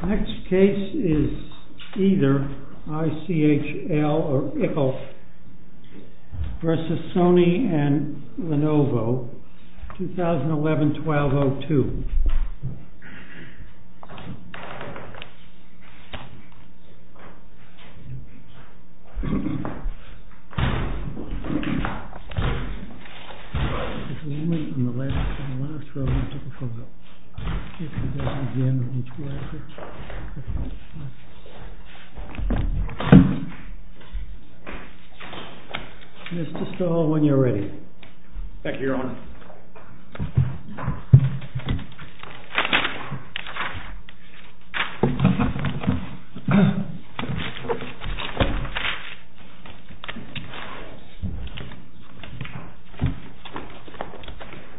The next case is either ICHL or ICHL versus Sony and Lenovo, 2011-12-02. And it's just a hold when you're ready. Thank you, your honor.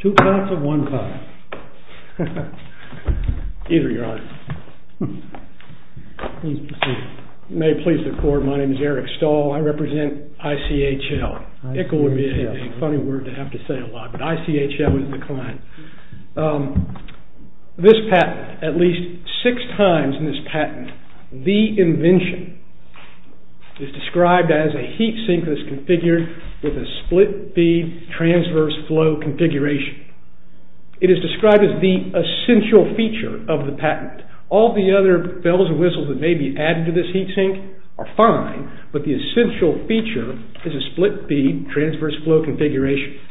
Two parts of one part. Either, your honor. May it please the court. My name is Eric Stahl. I represent ICHL. ICHL would be a funny word to have to say a lot, but ICHL is the client. This patent, at least six times in this patent, the invention is described as a heat sink that's configured with a split feed transverse flow configuration. It is described as the essential feature of the patent. All the other bells and whistles that may be added to this heat sink are fine, but the essential feature is a split feed transverse flow configuration.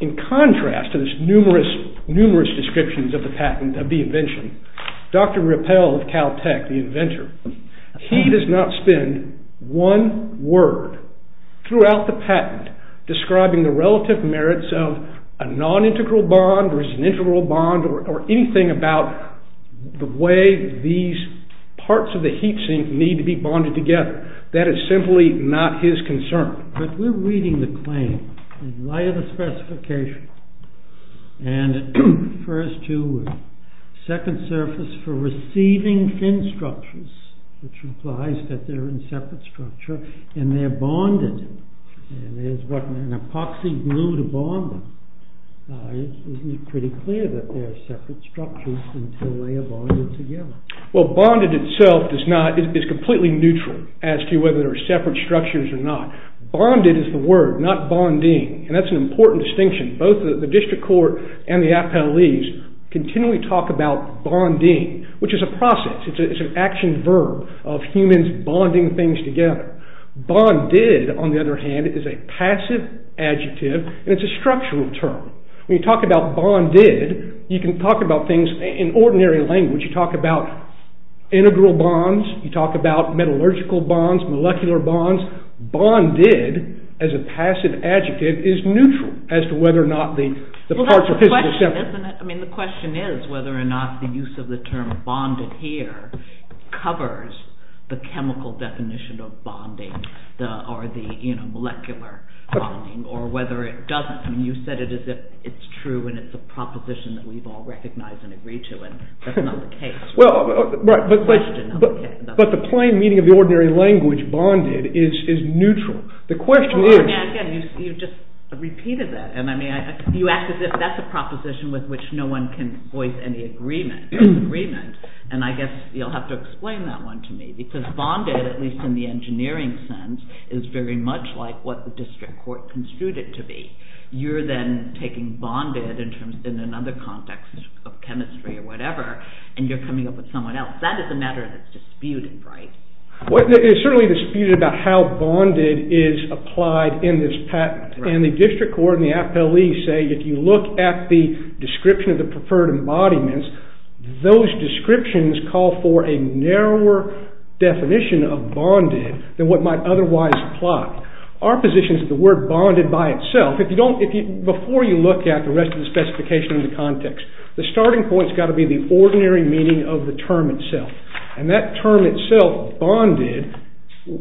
In contrast to this numerous, numerous descriptions of the patent, of the invention, Dr. Rappel of Caltech, the inventor, he does not spend one word throughout the patent describing the relative merits of a non-integral bond or an integral bond or anything about the way these parts of the heat sink need to be bonded together. That is simply not his concern. But we're reading the claim in light of the specification. And it refers to second surface for receiving fin structures, which implies that they're in separate structure, and they're bonded. And there's an epoxy glue to bond them. Isn't it pretty clear that they're separate structures until they are bonded together? Well, bonded itself is completely neutral as to whether they're separate structures or not. Bonded is the word, not bonding. And that's an important distinction. Both the district court and the appellees continually talk about bonding, which is a process. It's an action verb of humans bonding things together. Bonded, on the other hand, is a passive adjective. And it's a structural term. When you talk about bonded, you can talk about things in ordinary language. You talk about integral bonds. You talk about metallurgical bonds, molecular bonds. Bonded, as a passive adjective, is neutral as to whether or not the parts are physically separate. I mean, the question is whether or not the use of the term bonded here covers the chemical definition of bonding, or the molecular bonding, or whether it doesn't. And you said it as if it's true, and it's a proposition that we've all recognized and agreed to. That's not the case. Well, but the plain meaning of the ordinary language bonded is neutral. The question is. Again, you just repeated that. And I mean, you act as if that's a proposition with which no one can voice any agreement. And I guess you'll have to explain that one to me. Because bonded, at least in the engineering sense, is very much like what the district court construed it to be. You're then taking bonded in another context of chemistry or whatever, and you're coming up with someone else. That is a matter that's disputed, right? Well, it's certainly disputed about how bonded is applied in this patent. And the district court and the FLE say if you look at the description of the preferred embodiments, those descriptions call for a narrower definition of bonded than what might otherwise apply. Our position is that the word bonded by itself, before you look at the rest of the specification in the context, the starting point's got to be the ordinary meaning of the term itself. And that term itself, bonded,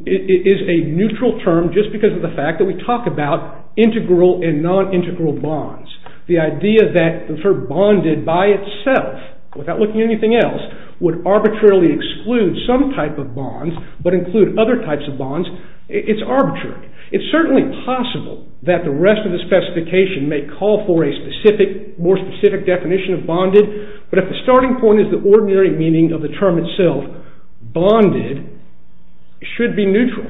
is a neutral term just because of the fact that we talk about integral and non integral bonds. The idea that the term bonded by itself, without looking at anything else, would arbitrarily exclude some type of bonds, but include other types of bonds, it's arbitrary. It's certainly possible that the rest of the specification may call for a more specific definition of bonded. But if the starting point is the ordinary meaning of the term itself, bonded should be neutral.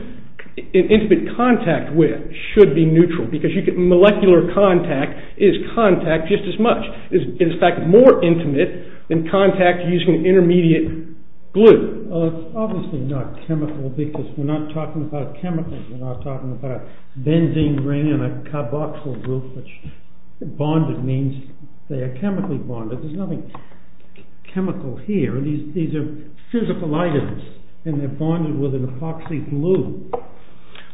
An intimate contact with should be neutral because molecular contact is contact just as much. It is, in fact, more intimate than contact using intermediate glue. Obviously not chemical because we're not talking about chemicals. We're not talking about a benzene ring and a carboxyl group, which bonded means they are chemically bonded. There's nothing chemical here. These are physical items, and they're bonded with an epoxy glue.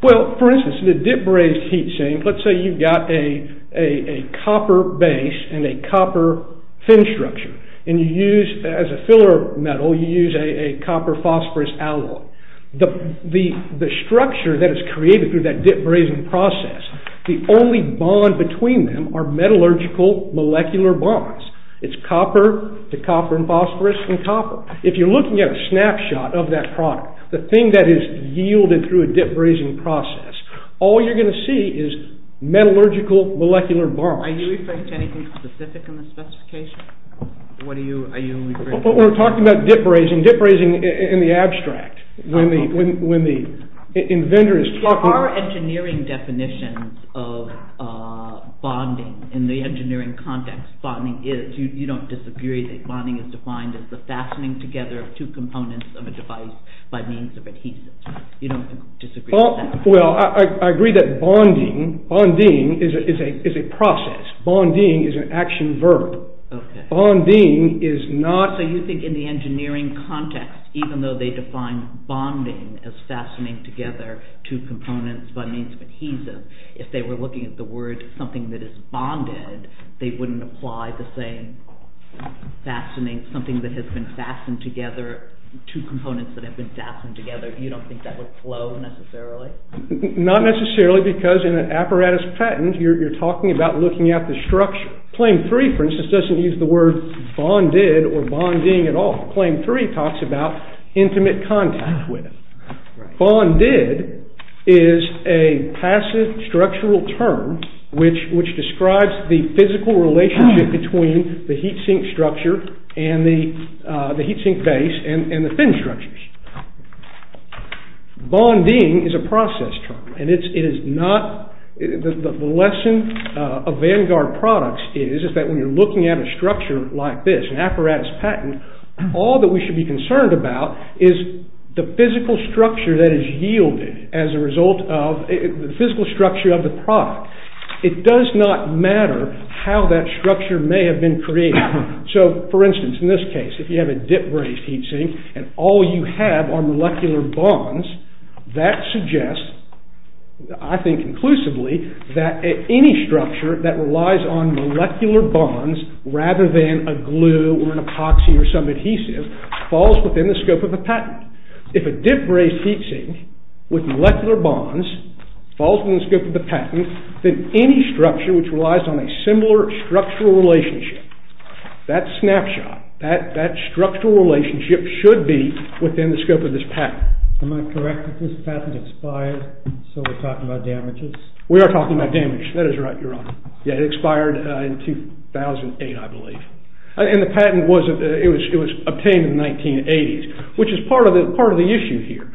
Well, for instance, in a dip brazed heat sink, let's say you've got a copper base and a copper fin structure. And you use, as a filler metal, you use a copper phosphorous alloy. The structure that is created through that dip brazing process, the only bond between them are metallurgical molecular bonds. It's copper to copper and phosphorous and copper. If you're looking at a snapshot of that product, the thing that is yielded through a dip brazing process, all you're going to see is metallurgical molecular bonds. Are you referring to anything specific in the specification? What are you referring to? Well, we're talking about dip brazing. Dip brazing in the abstract, when the inventor is talking. Are engineering definitions of bonding, in the engineering context, bonding is? You don't disagree that bonding is defined as the fastening together of two components of a device by means of adhesive. You don't disagree with that? Well, I agree that bonding is a process. Bonding is an action verb. Bonding is not. So you think in the engineering context, even though they define bonding as fastening together two components by means of adhesive, if they were looking at the word something that is bonded, they wouldn't apply the same fastening, something that has been fastened together, two components that have been fastened together. You don't think that would flow, necessarily? Not necessarily, because in an apparatus patent, you're talking about looking at the structure. Claim three, for instance, doesn't use the word bonded or bonding at all. Claim three talks about intimate contact with. Bonded is a passive structural term which describes the physical relationship between the heat sink structure and the heat sink base and the fin structures. Bonding is a process term. And the lesson of Vanguard products is that when you're looking at a structure like this, an apparatus patent, all that we should be concerned about is the physical structure that is yielded as a result of the physical structure of the product. It does not matter how that structure may have been created. So for instance, in this case, if you have a dip-brazed heat sink and all you have are molecular bonds, that suggests, I think conclusively, that any structure that relies on molecular bonds rather than a glue or an epoxy or some adhesive falls within the scope of the patent. If a dip-brazed heat sink with molecular bonds falls within the scope of the patent, then any structure which relies on a similar structural relationship, that snapshot, that structural relationship should be within the scope of this patent. Am I correct that this patent expired so we're talking about damages? We are talking about damage. That is right, Your Honor. Yeah, it expired in 2008, I believe. And the patent was obtained in the 1980s, which is part of the issue here.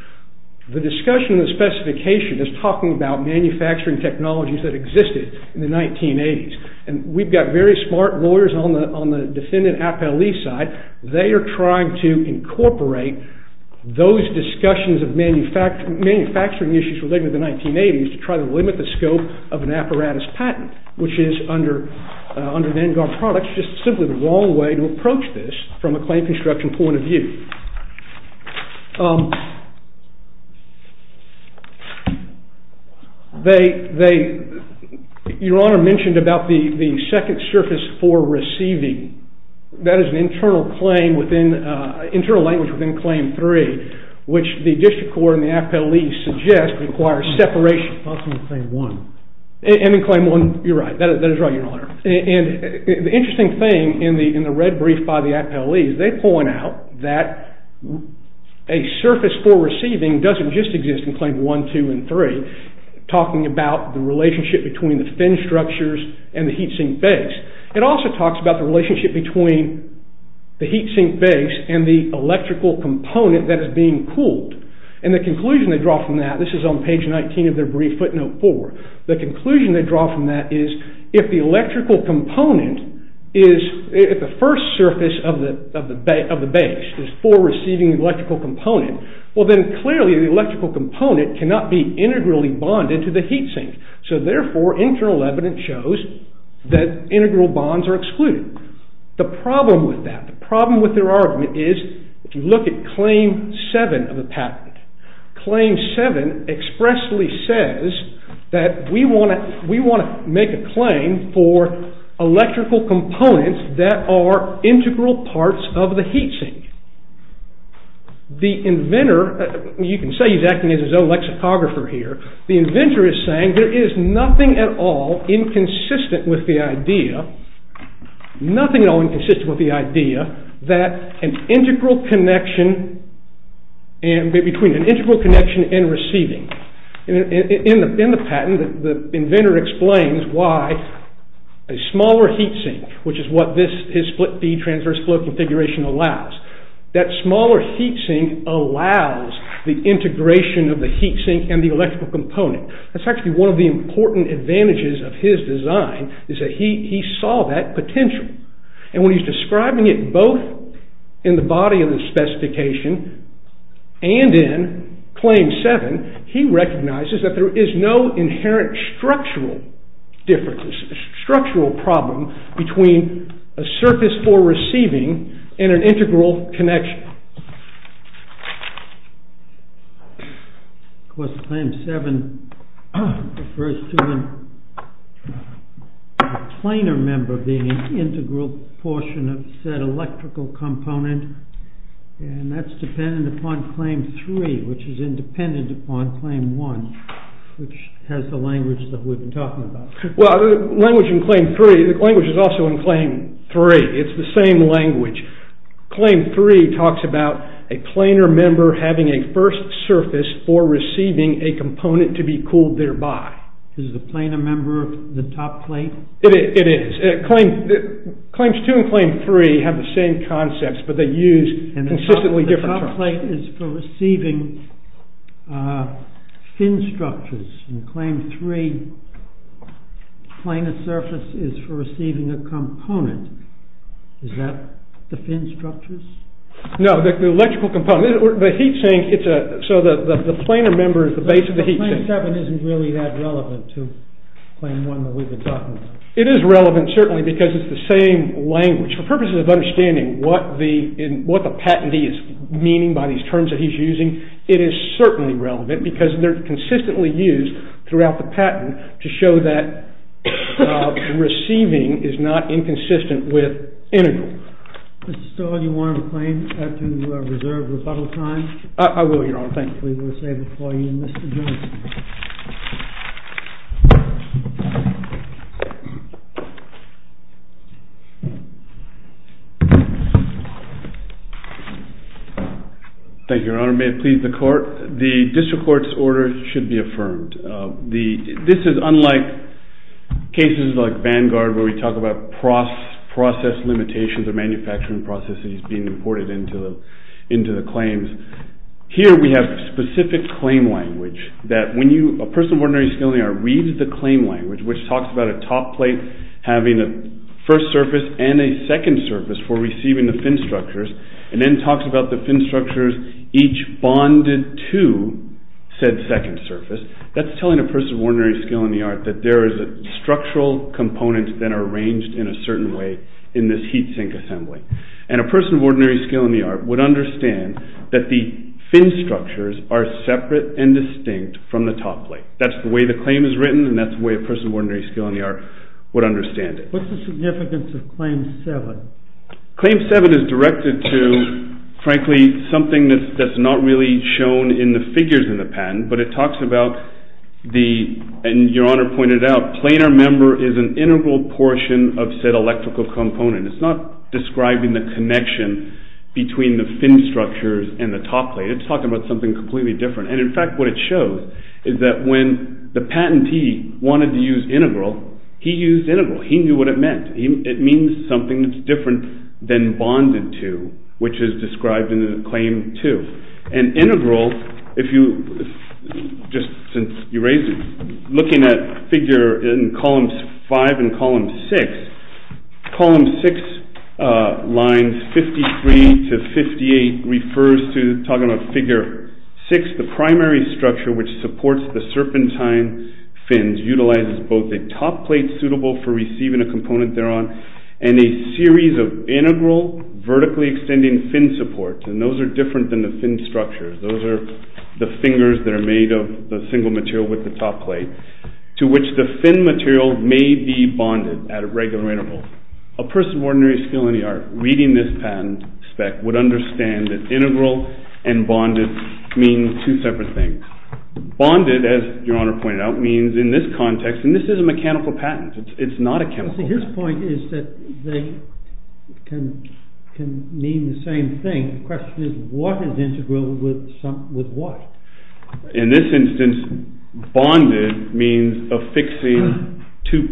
The discussion of the specification is talking about manufacturing technologies that existed in the 1980s. And we've got very smart lawyers on the defendant appellee side. They are trying to incorporate those discussions of manufacturing issues related to the 1980s to try to limit the scope of an apparatus patent, which is under Vanguard Products, just simply the wrong way to approach this from a claim construction point of view. Your Honor mentioned about the second surface for receiving. That is an internal claim within, internal language within Claim 3, which the district court and the appellee suggest requires separation. Not from Claim 1. And in Claim 1, you're right. That is right, Your Honor. And the interesting thing in the red brief by the appellees, they point out that a surface for receiving doesn't just exist in Claim 1, 2, and 3, talking about the relationship between the fin structures and the heat sink base. It also talks about the relationship between the heat sink base and the electrical component that is being cooled. And the conclusion they draw from that, this is on page 19 of their brief, footnote four. The conclusion they draw from that is if the electrical component is, if the first surface of the base is for receiving electrical component, well then clearly the electrical component cannot be integrally bonded to the heat sink. So therefore, internal evidence shows that integral bonds are excluded. The problem with that, the problem with their argument is if you look at Claim 7 of the patent, Claim 7 expressly says that we want to make a claim for electrical components that are integral parts of the heat sink. The inventor, you can say he's acting as his own lexicographer here, the inventor is saying there is nothing at all inconsistent with the idea, nothing at all inconsistent with the idea that an integral connection and, between an integral connection and receiving, in the patent, the inventor explains why a smaller heat sink, which is what this, his split D transverse flow configuration allows, that smaller heat sink allows the integration of the heat sink and the electrical component. That's actually one of the important advantages of his design is that he saw that potential. And when he's describing it both in the body of the specification and in Claim 7, he recognizes that there is no inherent structural difference, structural problem between a surface for receiving and an integral connection. Of course, Claim 7 refers to a planar member being an integral portion of said electrical component and that's dependent upon Claim 3, which is independent upon Claim 1, which has the language that we've been talking about. Well, the language in Claim 3, the language is also in Claim 3, it's the same language. Claim 3 talks about a planar member having a first surface for receiving a component to be cooled thereby. Is the planar member the top plate? It is, Claims 2 and Claim 3 have the same concepts, but they use consistently different terms. The top plate is for receiving fin structures and Claim 3, planar surface is for receiving a component. Is that the fin structures? No, the electrical component, the heat sink, so the planar member is the base of the heat sink. But Claim 7 isn't really that relevant to Claim 1 that we've been talking about. It is relevant certainly because it's the same language. For purposes of understanding what the patentee is meaning by these terms that he's using, it is certainly relevant because they're consistently used throughout the patent to show that receiving is not inconsistent with integral. Mr. Stoll, do you want to claim after you have reserved rebuttal time? I will, Your Honor, thank you. We will save it for you, Mr. Johnson. Thank you, Your Honor. May it please the Court. The District Court's order should be affirmed. This is unlike cases like Vanguard where we talk about process limitations or manufacturing processes being imported into the claims. Here we have specific claim language that when a person of ordinary skill in the art reads the claim language, which talks about a top plate having a first surface and a second surface for receiving the fin structures, and then talks about the fin structures each bonded to said second surface, that's telling a person of ordinary skill in the art that there is a structural component that are arranged in a certain way in this heat sink assembly. And a person of ordinary skill in the art would understand that the fin structures are separate and distinct from the top plate. That's the way the claim is written and that's the way a person of ordinary skill in the art would understand it. What's the significance of Claim 7? Claim 7 is directed to, frankly, something that's not really shown in the figures in the patent, but it talks about the, and Your Honor pointed out, planar member is an integral portion of said electrical component. It's not describing the connection between the fin structures and the top plate. It's talking about something completely different. And in fact, what it shows is that when the patentee wanted to use integral, he used integral. He knew what it meant. It means something that's different than bonded to, which is described in Claim 2. And integral, if you, just since you raised it, looking at figure in Columns 5 and Columns 6, Columns 6 lines 53 to 58 refers to, talking about Figure 6, the primary structure which supports the serpentine fins utilizes both a top plate suitable for receiving a component thereon and a series of integral vertically extending fin support. And those are different than the fin structures. Those are the fingers that are made of the single material with the top plate to which the fin material may be bonded at a regular interval. A person of ordinary skill in the art reading this patent spec would understand that integral and bonded mean two separate things. Bonded, as Your Honor pointed out, means in this context, and this is a mechanical patent. It's not a chemical. His point is that they can mean the same thing. The question is, what is integral with what? In this instance, bonded means affixing two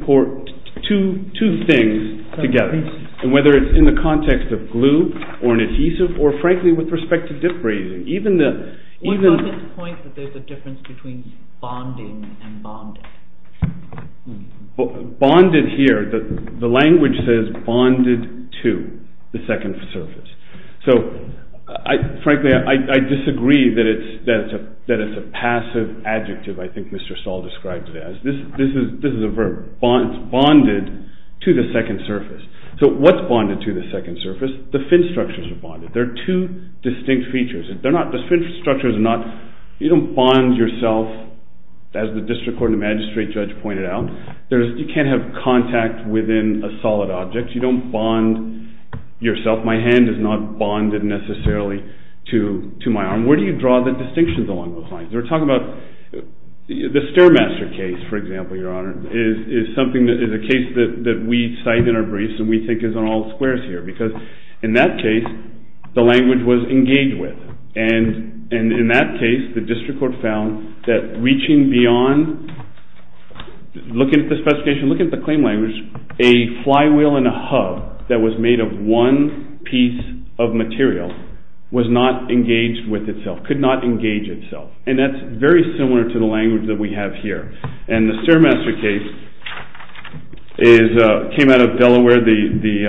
things together. And whether it's in the context of glue or an adhesive or frankly, with respect to dip brazing, even the- What about this point that there's a difference between bonding and bonded? Bonded here, the language says bonded to the second surface. So frankly, I disagree that it's a passive adjective I think Mr. Stahl described it as. This is a verb, it's bonded to the second surface. So what's bonded to the second surface? The fin structures are bonded. They're two distinct features. They're not, the fin structures are not, you don't bond yourself as the district court and magistrate judge pointed out. You can't have contact within a solid object. You don't bond yourself. My hand is not bonded necessarily to my arm. Where do you draw the distinctions along those lines? We're talking about the Stairmaster case, for example, Your Honor, is a case that we cite in our briefs and we think is on all squares here because in that case, the language was engaged with. And in that case, the district court found that reaching beyond, looking at the specification, looking at the claim language, a flywheel and a hub that was made of one piece of material was not engaged with itself, could not engage itself. And that's very similar to the language that we have here. And the Stairmaster case came out of Delaware. The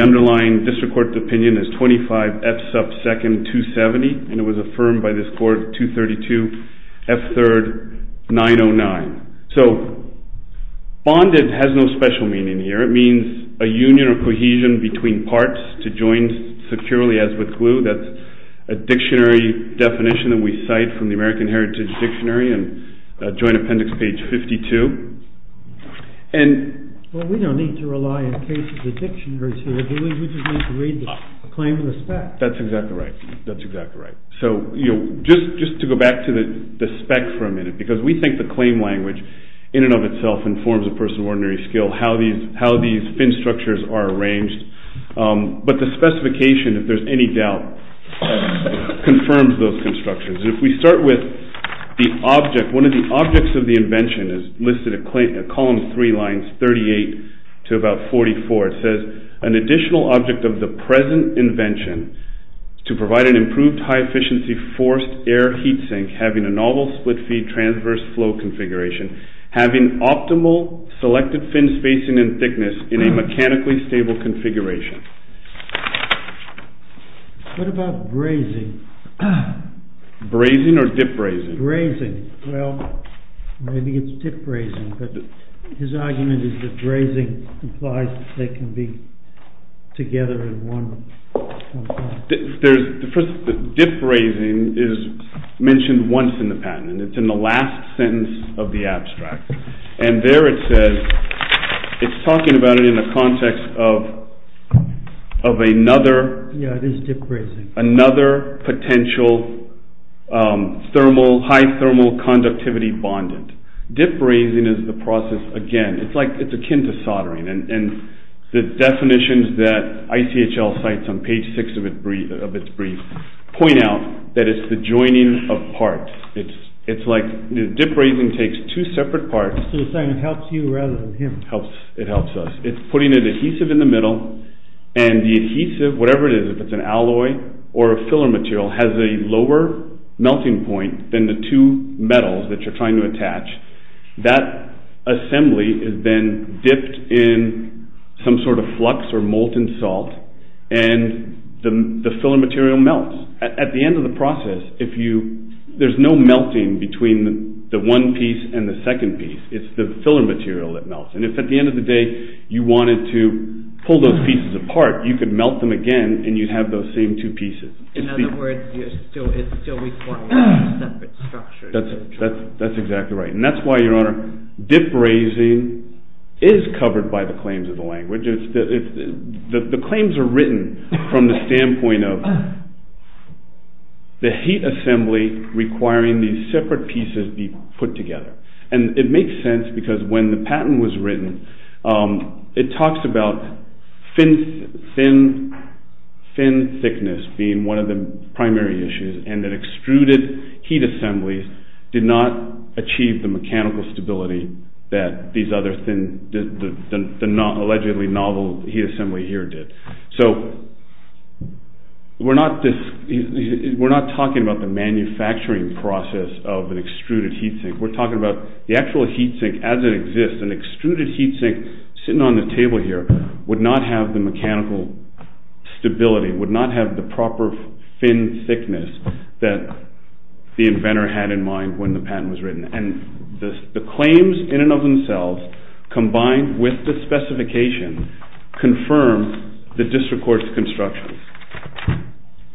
underlying district court opinion is 25 F sub 2nd 270 and it was affirmed by this court 232 F third 909. So bonded has no special meaning here. It means a union or cohesion between parts to join securely as with glue. That's a dictionary definition that we cite from the American Heritage Dictionary and Joint Appendix page 52. And- Well, we don't need to rely on cases of dictionaries here. We just need to read the claim of respect. That's exactly right. That's exactly right. So just to go back to the spec for a minute, because we think the claim language in and of itself informs a person of ordinary skill how these fin structures are arranged. But the specification, if there's any doubt, confirms those constructions. And if we start with the object, one of the objects of the invention is listed at column three lines 38 to about 44. It says, an additional object of the present invention to provide an improved high efficiency forced air heat sink having a novel split feed transverse flow configuration, having optimal selected fin spacing and thickness in a mechanically stable configuration. What about brazing? Brazing or dip brazing? Brazing. Well, maybe it's dip brazing, but his argument is that brazing implies they can be together in one form. There's, first, dip brazing is mentioned once in the patent. It's in the last sentence of the abstract. And there it says, it's talking about it in the context of another. Yeah, it is dip brazing. Another potential thermal, high thermal conductivity bondent. Dip brazing is the process, again, it's like it's akin to soldering. And the definitions that ICHL cites on page six of its brief point out that it's the joining of parts. It's like dip brazing takes two separate parts. So you're saying it helps you rather than him. Helps, it helps us. It's putting an adhesive in the middle and the adhesive, whatever it is, if it's an alloy or a filler material has a lower melting point than the two metals that you're trying to attach, that assembly is then dipped in some sort of flux or molten salt and the filler material melts. At the end of the process, if you, there's no melting between the one piece and the second piece. It's the filler material that melts. And if at the end of the day, you wanted to pull those pieces apart, you could melt them again and you'd have those same two pieces. In other words, it's still required to have separate structures. That's exactly right. And that's why your honor, dip brazing is covered by the claims of the language. It's the claims are written from the standpoint of the heat assembly requiring these separate pieces be put together. And it makes sense because when the patent was written, it talks about thin thickness being one of the primary issues and that extruded heat assembly did not achieve the mechanical stability that these other thin, the not allegedly novel heat assembly here did. So we're not talking about the manufacturing process of an extruded heat sink. We're talking about the actual heat sink as it exists. An extruded heat sink sitting on the table here would not have the mechanical stability, would not have the proper thin thickness that the inventor had in mind when the patent was written. And the claims in and of themselves combined with the specification confirm the district court's construction.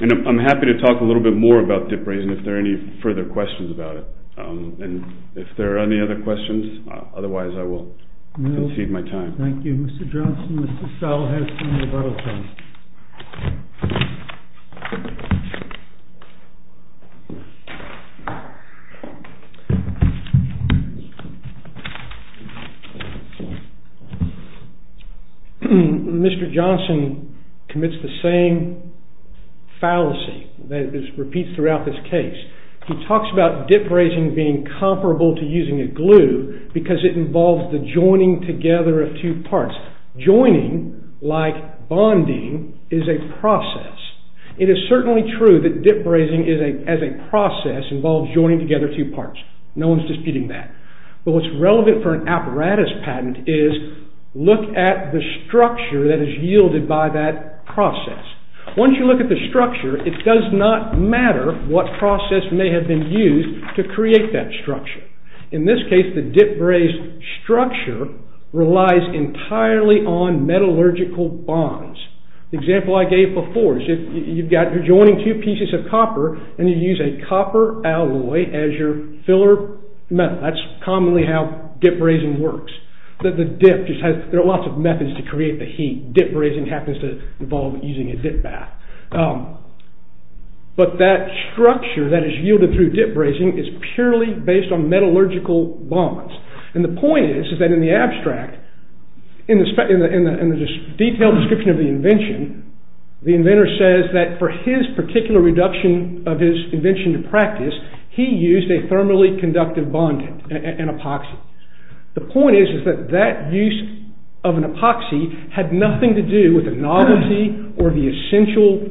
And I'm happy to talk a little bit more about dip brazing if there are any further questions about it. And if there are any other questions, otherwise I will concede my time. Thank you. Mr. Johnson, Mr. Stahl has some rebuttal time. Thank you. Mr. Johnson commits the same fallacy that is repeats throughout this case. He talks about dip brazing being comparable to using a glue because it involves the joining together of two parts. Joining, like bonding, is a process. It is certainly true that dip brazing as a process involves joining together two parts. No one's disputing that. But what's relevant for an apparatus patent is look at the structure that is yielded by that process. Once you look at the structure, it does not matter what process may have been used to create that structure. In this case, the dip brazed structure relies entirely on metallurgical bonds. The example I gave before is you've got, you're joining two pieces of copper and you use a copper alloy as your filler metal. That's commonly how dip brazing works. The dip just has, there are lots of methods to create the heat. Dip brazing happens to involve using a dip bath. But that structure that is yielded through dip brazing is purely based on metallurgical bonds. And the point is, is that in the abstract, in the detailed description of the invention, the inventor says that for his particular reduction of his invention to practice, he used a thermally conductive bond and epoxy. The point is, is that that use of an epoxy had nothing to do with the novelty or the essential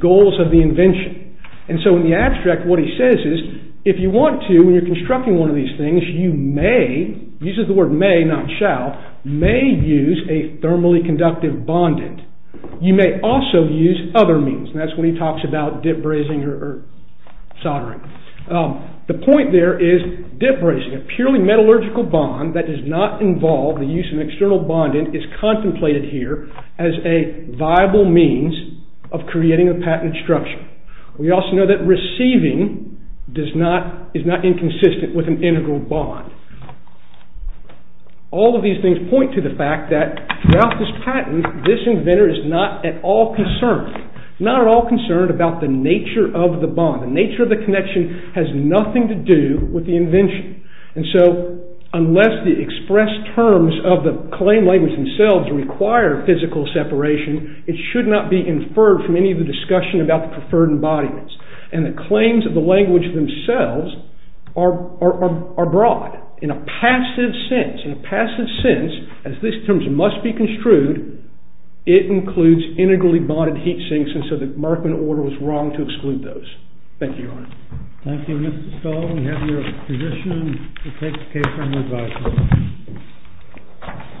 goals of the invention. And so in the abstract, what he says is, if you want to, when you're constructing one of these things, you may, uses the word may not shall, may use a thermally conductive bondant. You may also use other means. And that's when he talks about dip brazing or soldering. The point there is dip brazing, a purely metallurgical bond that does not involve the use of an external bondant is contemplated here as a viable means of creating a patented structure. We also know that receiving does not, is not inconsistent with an integral bond. All of these things point to the fact that throughout this patent, this inventor is not at all concerned, not at all concerned about the nature of the bond. The nature of the connection has nothing to do with the invention. And so unless the expressed terms of the claim language themselves require physical separation, it should not be inferred from any of the discussion about the preferred embodiments. And the claims of the language themselves are broad in a passive sense. In a passive sense, as these terms must be construed, it includes integrally bonded heat sinks. And so the Merkman order was wrong to exclude those. Thank you, Your Honor. Thank you, Mr. Stahl. We have your position to take the case for an advisory.